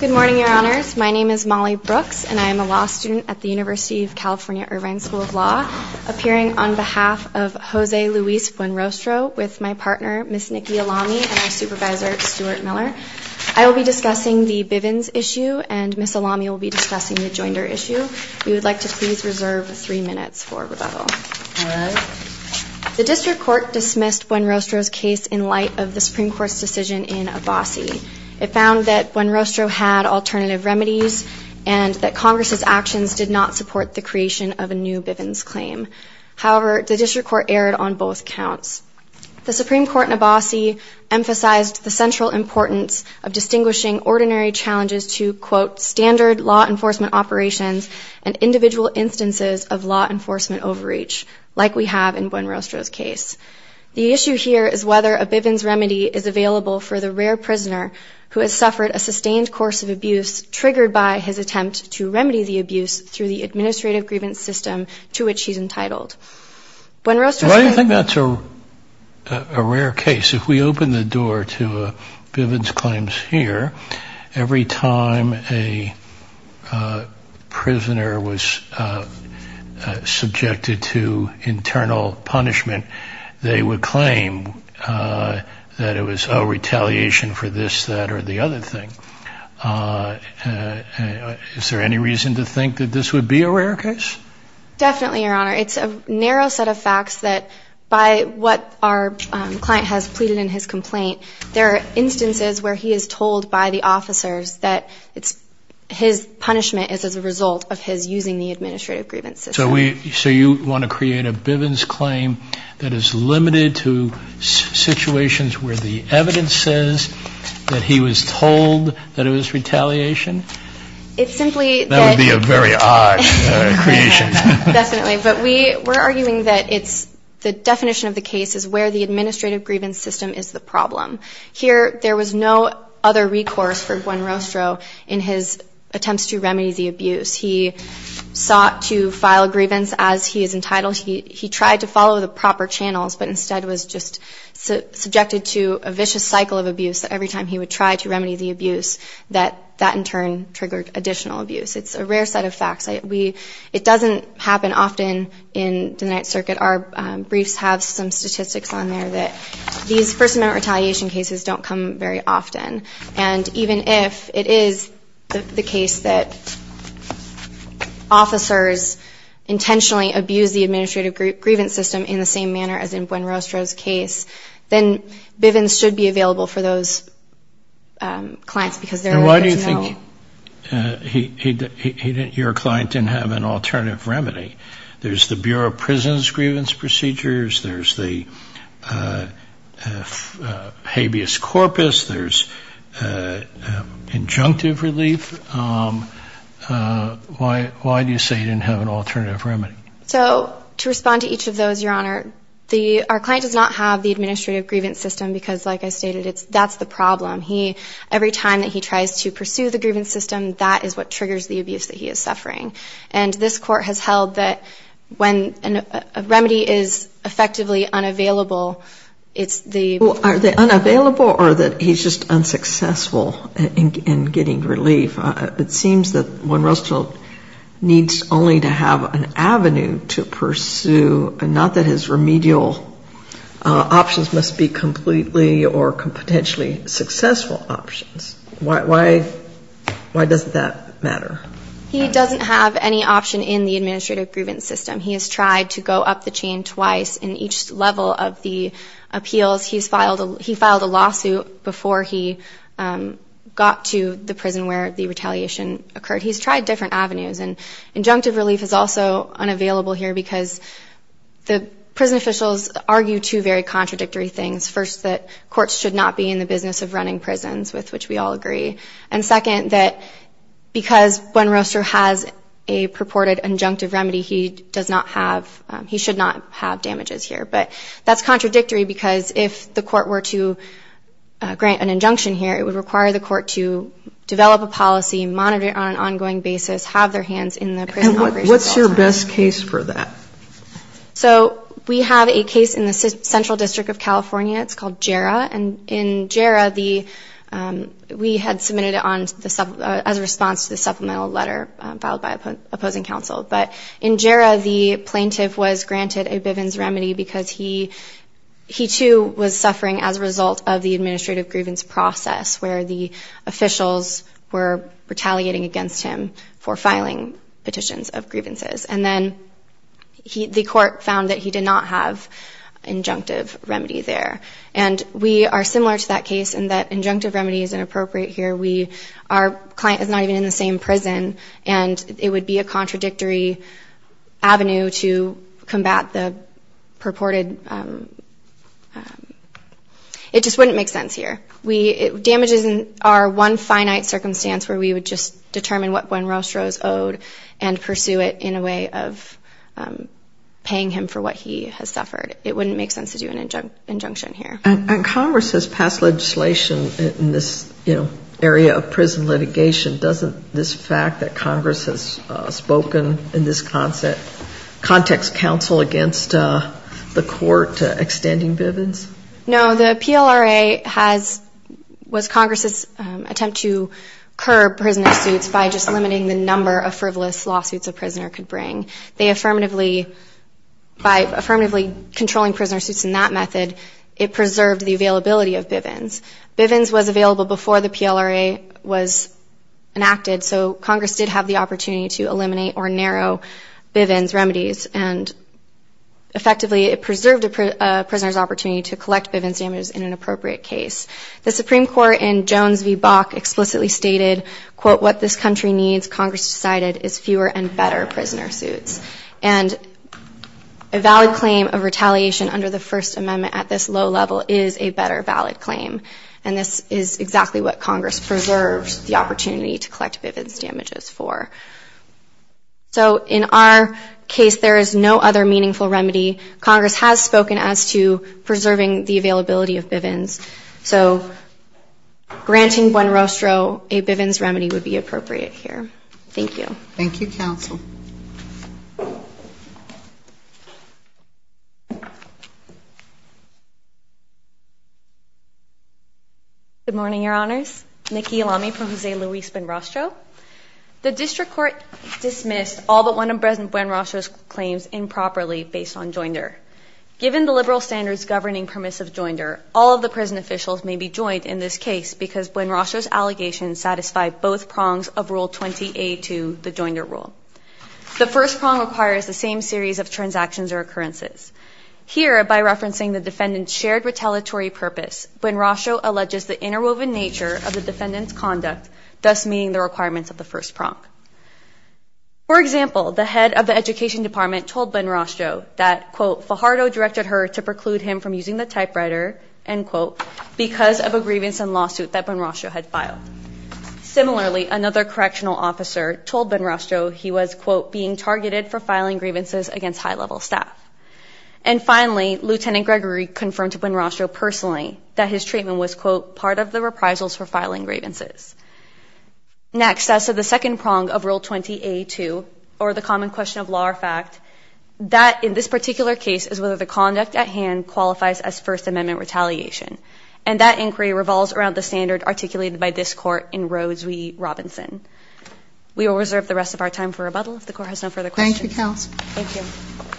Good morning, Your Honors. My name is Molly Brooks, and I am a law student at the University of California, Irvine School of Law, appearing on behalf of Jose Luis Buenrostro with my partner, Ms. Nikki Alami, and our supervisor, Stuart Miller. I will be discussing the Bivens issue, and Ms. Alami will be discussing the Joinder issue. We would like to please reserve three minutes for rebuttal. The District Court dismissed Buenrostro's case in light of the Supreme Court's decision in Abbasi. It found that Buenrostro had alternative remedies, and that Congress's actions did not support the creation of a new Bivens claim. However, the District Court erred on both counts. The Supreme Court in Abbasi emphasized the central importance of distinguishing ordinary challenges to, quote, standard law enforcement operations and individual instances of law enforcement overreach, like we have in Buenrostro's case. The issue here is whether a Bivens remedy is available for the rare prisoner who has suffered a sustained course of abuse triggered by his attempt to remedy the abuse through the administrative grievance system to which he is entitled. Why do you think that's a rare case? If we open the door to Bivens claims here, every time a prisoner was subjected to internal punishment, they would claim that it was, oh, retaliation for this, that, or the other thing. Is there any reason to think that this would be a rare case? Definitely, Your Honor. It's a narrow set of facts that by what our client has pleaded in his complaint, there are instances where he is told by the officers that his punishment is as a result of his using the administrative grievance system. So you want to create a Bivens claim that is limited to situations where the evidence says that he was told that it was retaliation? That would be a very odd creation. Definitely. But we're arguing that the definition of the case is where the administrative grievance system is the problem. Here, there was no other recourse for Buenrostro in his attempts to remedy the abuse. He sought to file a grievance as he is entitled. He tried to follow the proper channels, but instead was just subjected to a vicious cycle of abuse every time he would try to remedy the abuse, that that in turn triggered additional abuse. It's a rare set of facts. It doesn't happen often in the Ninth Circuit. Our briefs have some statistics on there that these first-amendment retaliation cases don't come very often. And even if it is the case that officers intentionally abused the administrative grievance system in the same manner as in Buenrostro's case, then Bivens should be available for those clients because there is no... And why do you think your client didn't have an alternative remedy? There's the Bureau of Prisons grievance procedures. There's the habeas corpus. There's injunctive relief. Why do you say he didn't have an alternative remedy? So to respond to each of those, Your Honor, our client does not have the administrative grievance system because, like I stated, that's the problem. Every time that he tries to pursue the grievance system, that is what triggers the abuse that he is suffering. And this Court has held that when a remedy is effectively unavailable, it's the... Well, are they unavailable or that he's just unsuccessful in getting relief? It seems that Buenrostro needs only to have an avenue to pursue and not that his remedial options must be completely or potentially successful options. Why doesn't that matter? He doesn't have any option in the administrative grievance system. He has tried to go up the chain twice in each level of the appeals. He filed a lawsuit before he got to the prison where the retaliation occurred. He's tried different avenues. And injunctive relief is also unavailable here because the prison officials argue two very contradictory things. First, that courts should not be in the business of running prisons, with which we all agree. And second, that because Buenrostro has a purported injunctive remedy, he does not have... He should not have damages here. But that's contradictory because if the court were to grant an injunction here, it would require the court to develop a policy, monitor it on an ongoing basis, have their hands in the prison operations all the time. And what's your best case for that? So we have a case in the Central District of California. It's called Jarrah. And in Jarrah, we had submitted it as a response to the supplemental letter filed by opposing counsel. But in Jarrah, the plaintiff was granted a Bivens remedy because he too was suffering as a result of the administrative grievance process where the officials were retaliating against him for filing petitions of grievances. And then the court found that he did not have injunctive remedy there. And we are similar to that case in that injunctive remedy is inappropriate here. Our client is not even in the same prison. And it would be a contradictory avenue to combat the purported... It just wouldn't make sense here. Damages are one finite circumstance where we would just determine what Gwen Rostro is owed and pursue it in a way of paying him for what he has suffered. It wouldn't make sense to do an injunction here. And Congress has passed legislation in this, you know, area of prison litigation. Doesn't this fact that Congress has spoken in this context counsel against the court extending Bivens? No. The PLRA has, was Congress's attempt to curb prisoner suits by just limiting the number of frivolous lawsuits a prisoner could bring. They affirmatively, by affirmatively controlling prisoner suits in that method, it preserved the availability of Bivens. Bivens was available before the PLRA was enacted, so Congress did have the opportunity to eliminate or narrow Bivens remedies. And effectively, it preserved a prisoner's opportunity to collect Bivens damages in an appropriate case. The Supreme Court in Jones v. Bok explicitly stated, quote, what this country needs, Congress decided, is fewer and better prisoner suits. And a valid claim of retaliation under the First Amendment at this low level is a better valid claim. And this is exactly what Congress preserved the opportunity to collect Bivens damages for. So in our case, there is no other meaningful remedy. Congress has spoken as to preserving the availability of Bivens. So granting Buen Rostro a Bivens remedy would be appropriate here. Thank you. Thank you, Counsel. Good morning, Your Honors. Nikki Elami from Jose Luis Buen Rostro. The District Court dismissed all but one of President Buen Rostro's claims improperly based on joinder. Given the liberal standards governing permissive joinder, all of the prison officials may be joined in this case because Buen Rostro's allegations satisfy both prongs of Rule 20A2, the joinder rule. The first prong requires the same series of transactions or occurrences. Here, by referencing the defendant's shared retaliatory purpose, Buen Rostro alleges the interwoven nature of the defendant's conduct, thus meeting the requirements of the first prong. For example, the head of the Education Department told Buen Rostro that, quote, Fajardo directed her to preclude him from using the typewriter, end quote, because of a grievance and lawsuit that Buen Rostro had filed. Similarly, another correctional officer told Buen Rostro he was, quote, being targeted for filing grievances against high-level staff. And finally, Lieutenant Gregory confirmed to Buen Rostro personally that his treatment was, quote, part of the reprisals for filing grievances. Next, as to the second prong of Rule 20A2, or the common question of law or fact, that, in this particular case, is whether the conduct at hand qualifies as First Amendment retaliation. And that inquiry revolves around the standard articulated by this Court in Rhodes v. Robinson. We will reserve the rest of our time for rebuttal if the Court has no further questions. Thank you.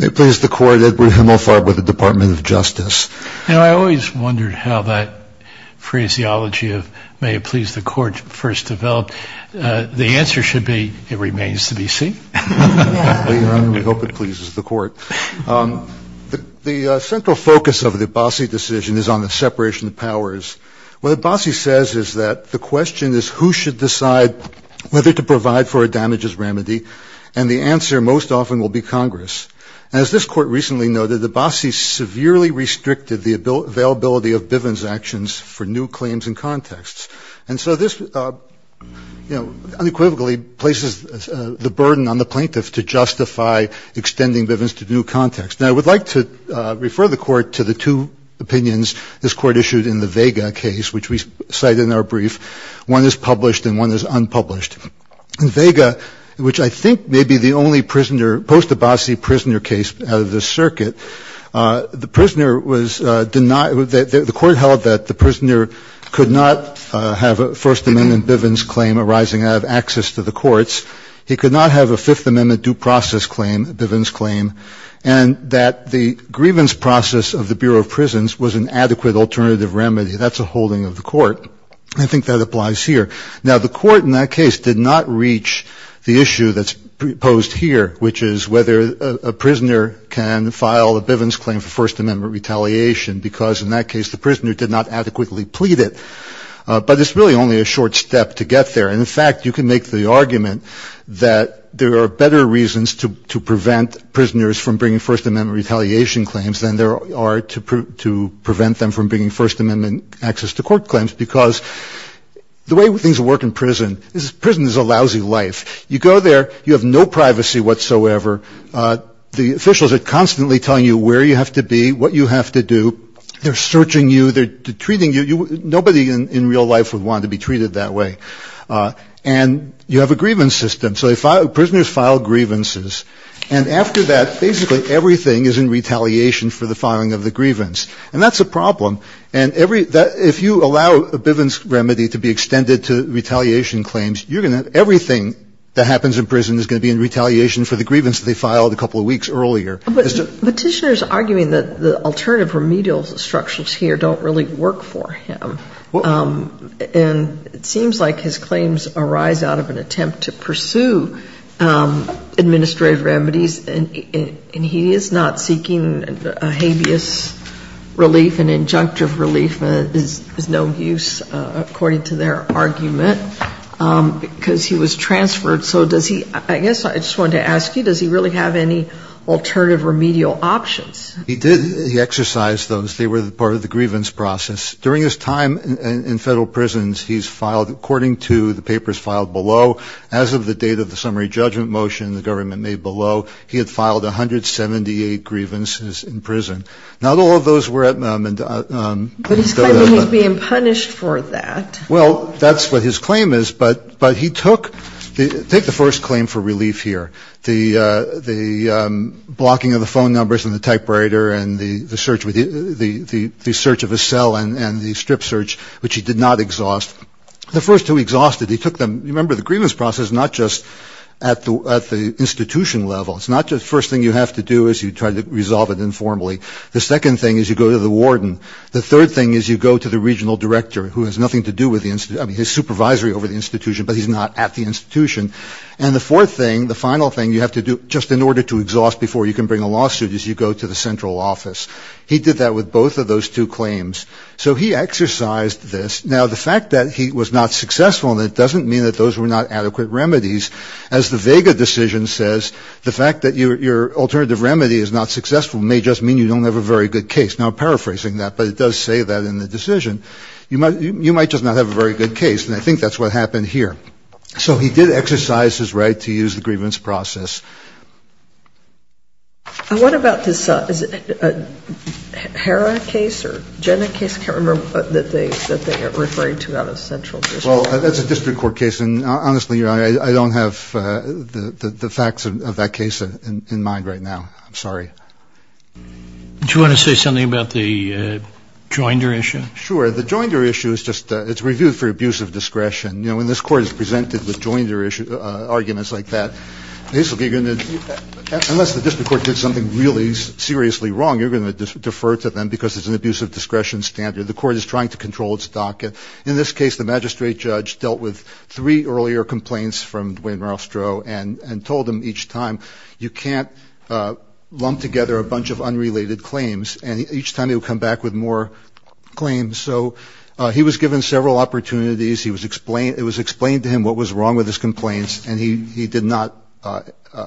May it please the Court, Edward Himmelfarb with the Department of Justice. You know, I always wondered how that phraseology of may it please the Court first developed. The answer should be it remains to be seen. We hope it pleases the Court. The central focus of the Abbasi decision is on the separation of powers. What Abbasi says is that the question is who should decide whether to provide for a damages remedy, and the answer most often will be Congress. As this Court recently noted, Abbasi severely restricted the availability of Bivens actions for new claims and contexts. And so this unequivocally places the burden on the plaintiffs to justify extending Bivens to new contexts. Now, I would like to refer the Court to the two opinions this Court issued in the Vega case, which we cite in our brief. One is published and one is unpublished. In Vega, which I think may be the only post-Abbasi prisoner case out of this circuit, the court held that the prisoner could not have a First Amendment Bivens claim arising out of access to the courts. He could not have a Fifth Amendment due process claim, Bivens claim, and that the grievance process of the Bureau of Prisons was an adequate alternative remedy. That's a holding of the court. I think that applies here. Now, the court in that case did not reach the issue that's posed here, which is whether a prisoner can file a Bivens claim for First Amendment retaliation, because in that case the prisoner did not adequately plead it. But it's really only a short step to get there. And, in fact, you can make the argument that there are better reasons to prevent prisoners from bringing First Amendment retaliation claims than there are to prevent them from bringing First Amendment access to court claims, because the way things work in prison is prison is a lousy life. You go there. You have no privacy whatsoever. The officials are constantly telling you where you have to be, what you have to do. They're searching you. They're treating you. Nobody in real life would want to be treated that way. And you have a grievance system. So prisoners file grievances. And after that, basically everything is in retaliation for the filing of the grievance. And that's a problem. And if you allow a Bivens remedy to be extended to retaliation claims, you're going to have everything that happens in prison is going to be in retaliation for the grievance that they filed a couple of weeks earlier. But Petitioner is arguing that the alternative remedial structures here don't really work for him. And it seems like his claims arise out of an attempt to pursue administrative remedies, and he is not seeking habeas relief. An injunctive relief is no use, according to their argument, because he was transferred. So does he – I guess I just wanted to ask you, does he really have any alternative remedial options? He did. He exercised those. They were part of the grievance process. During his time in federal prisons, he's filed, according to the papers filed below, as of the date of the summary judgment motion the government made below, he had filed 178 grievances in prison. Not all of those were – But he's claiming he's being punished for that. Well, that's what his claim is. But he took – take the first claim for relief here, the blocking of the phone numbers and the typewriter and the search of a cell and the strip search, which he did not exhaust. The first two he exhausted. He took them – remember, the grievance process is not just at the institution level. It's not the first thing you have to do is you try to resolve it informally. The second thing is you go to the warden. The third thing is you go to the regional director, who has nothing to do with the – I mean, his supervisory over the institution, but he's not at the institution. And the fourth thing, the final thing you have to do just in order to exhaust before you can bring a lawsuit is you go to the central office. He did that with both of those two claims. So he exercised this. Now, the fact that he was not successful in it doesn't mean that those were not adequate remedies. As the Vega decision says, the fact that your alternative remedy is not successful may just mean you don't have a very good case. Now, I'm paraphrasing that, but it does say that in the decision. You might just not have a very good case, and I think that's what happened here. So he did exercise his right to use the grievance process. And what about this – is it a Hera case or Jenna case? I can't remember that they are referring to out of central district. Well, that's a district court case, and honestly, I don't have the facts of that case in mind right now. I'm sorry. Do you want to say something about the Joinder issue? Sure. The Joinder issue is just – it's reviewed for abuse of discretion. You know, when this court is presented with Joinder arguments like that, basically you're going to – unless the district court did something really seriously wrong, you're going to defer to them because it's an abuse of discretion standard. The court is trying to control its docket. In this case, the magistrate judge dealt with three earlier complaints from Dwayne Rostrow and told him each time you can't lump together a bunch of unrelated claims, and each time he would come back with more claims. So he was given several opportunities. It was explained to him what was wrong with his complaints, and he did not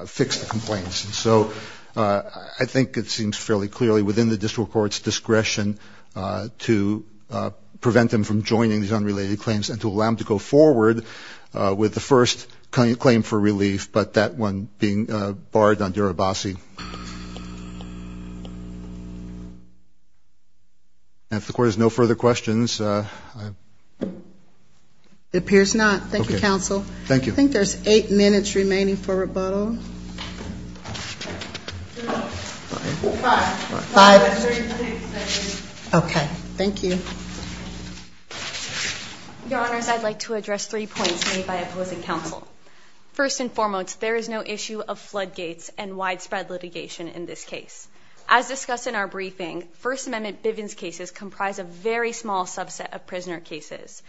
fix the complaints. So I think it seems fairly clearly within the district court's discretion to prevent him from joining these unrelated claims and to allow him to go forward with the first claim for relief, but that one being barred on Durabasi. And if the court has no further questions, I – It appears not. Thank you, counsel. Thank you. I think there's eight minutes remaining for rebuttal. Five. Five. Okay. Thank you. Your Honors, I'd like to address three points made by opposing counsel. First and foremost, there is no issue of floodgates and widespread litigation in this case. As discussed in our briefing, First Amendment Bivens cases comprise a very small subset of prisoner cases.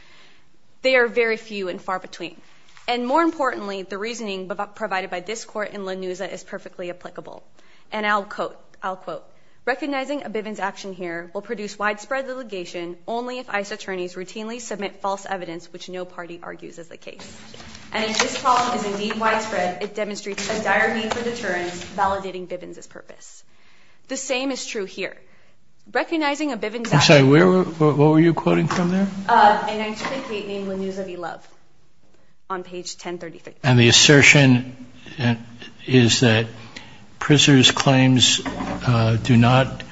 They are very few and far between. And more importantly, the reasoning provided by this Court in Lanuza is perfectly applicable. And I'll quote. I'll quote. Recognizing a Bivens action here will produce widespread litigation only if ICE attorneys routinely submit false evidence which no party argues is the case. And if this problem is indeed widespread, it demonstrates a dire need for deterrence validating Bivens' purpose. The same is true here. Recognizing a Bivens – I'm sorry. Where were – what were you quoting from there? An explicate named Lanuza v. Love on page 1033. And the assertion is that prisoners' claims do not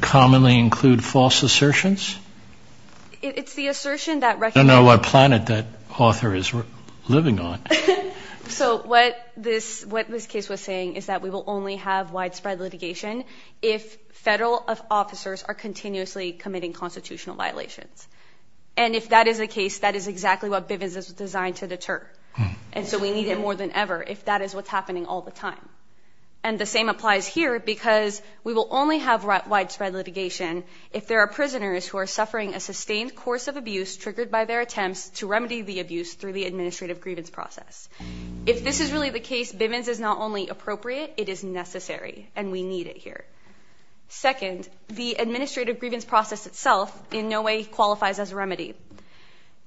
commonly include false assertions? It's the assertion that – I don't know what planet that author is living on. So what this case was saying is that we will only have widespread litigation if federal officers are continuously committing constitutional violations. And if that is the case, that is exactly what Bivens is designed to deter. And so we need it more than ever if that is what's happening all the time. And the same applies here because we will only have widespread litigation if there are prisoners who are suffering a sustained course of abuse triggered by their attempts to remedy the abuse through the administrative grievance process. If this is really the case, Bivens is not only appropriate, it is necessary. And we need it here. Second, the administrative grievance process itself in no way qualifies as a remedy.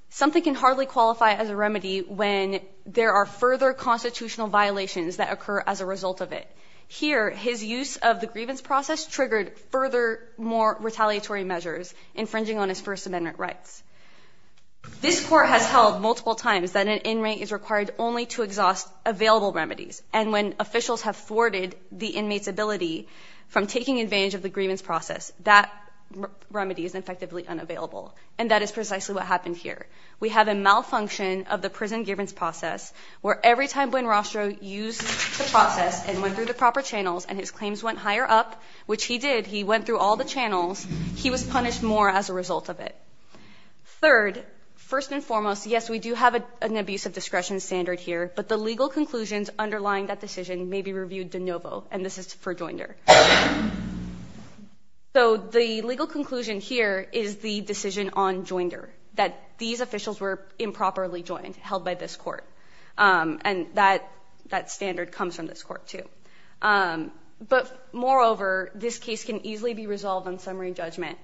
Something can hardly qualify as a remedy when there are further constitutional violations that occur as a result of it. Here, his use of the grievance process triggered further more retaliatory measures infringing on his First Amendment rights. This court has held multiple times that an inmate is required only to exhaust available remedies. And when officials have thwarted the inmate's ability from taking advantage of the grievance process, that remedy is effectively unavailable. And that is precisely what happened here. We have a malfunction of the prison grievance process where every time Buenrostro used the process and went through the proper channels and his claims went higher up, which he did. He went through all the channels. He was punished more as a result of it. Third, first and foremost, yes, we do have an abuse of discretion standard here. But the legal conclusions underlying that decision may be reviewed de novo. And this is for Joinder. So the legal conclusion here is the decision on Joinder, that these officials were improperly joined, held by this court. And that standard comes from this court, too. But moreover, this case can easily be resolved on summary judgment.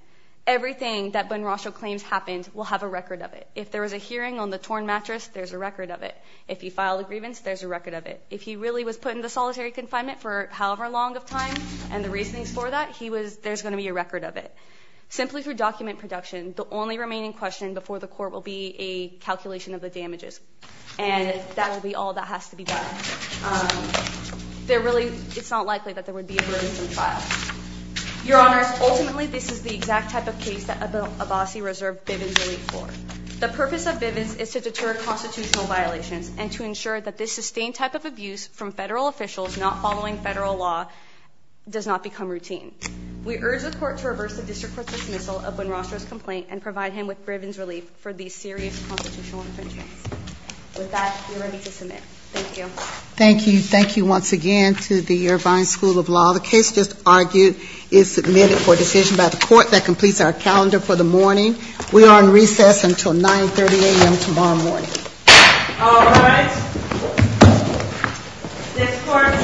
Everything that Buenrostro claims happened will have a record of it. If there was a hearing on the torn mattress, there's a record of it. If he filed a grievance, there's a record of it. If he really was put into solitary confinement for however long of time and the reasonings for that, there's going to be a record of it. Simply through document production, the only remaining question before the court will be a calculation of the damages. And that will be all that has to be done. It's not likely that there would be a brutal trial. Your Honors, ultimately this is the exact type of case that Abbasi reserved Bivens relief for. The purpose of Bivens is to deter constitutional violations and to ensure that this sustained type of abuse from federal officials not following federal law does not become routine. We urge the court to reverse the district court's dismissal of Buenrostro's complaint and provide him with Bivens relief for these serious constitutional infringements. With that, you're ready to submit. Thank you. Thank you. Thank you once again to the Irvine School of Law. The case just argued is submitted for decision by the court that completes our calendar for the morning. We are on recess until 930 a.m. tomorrow morning. All right. This court for this session stands adjourned.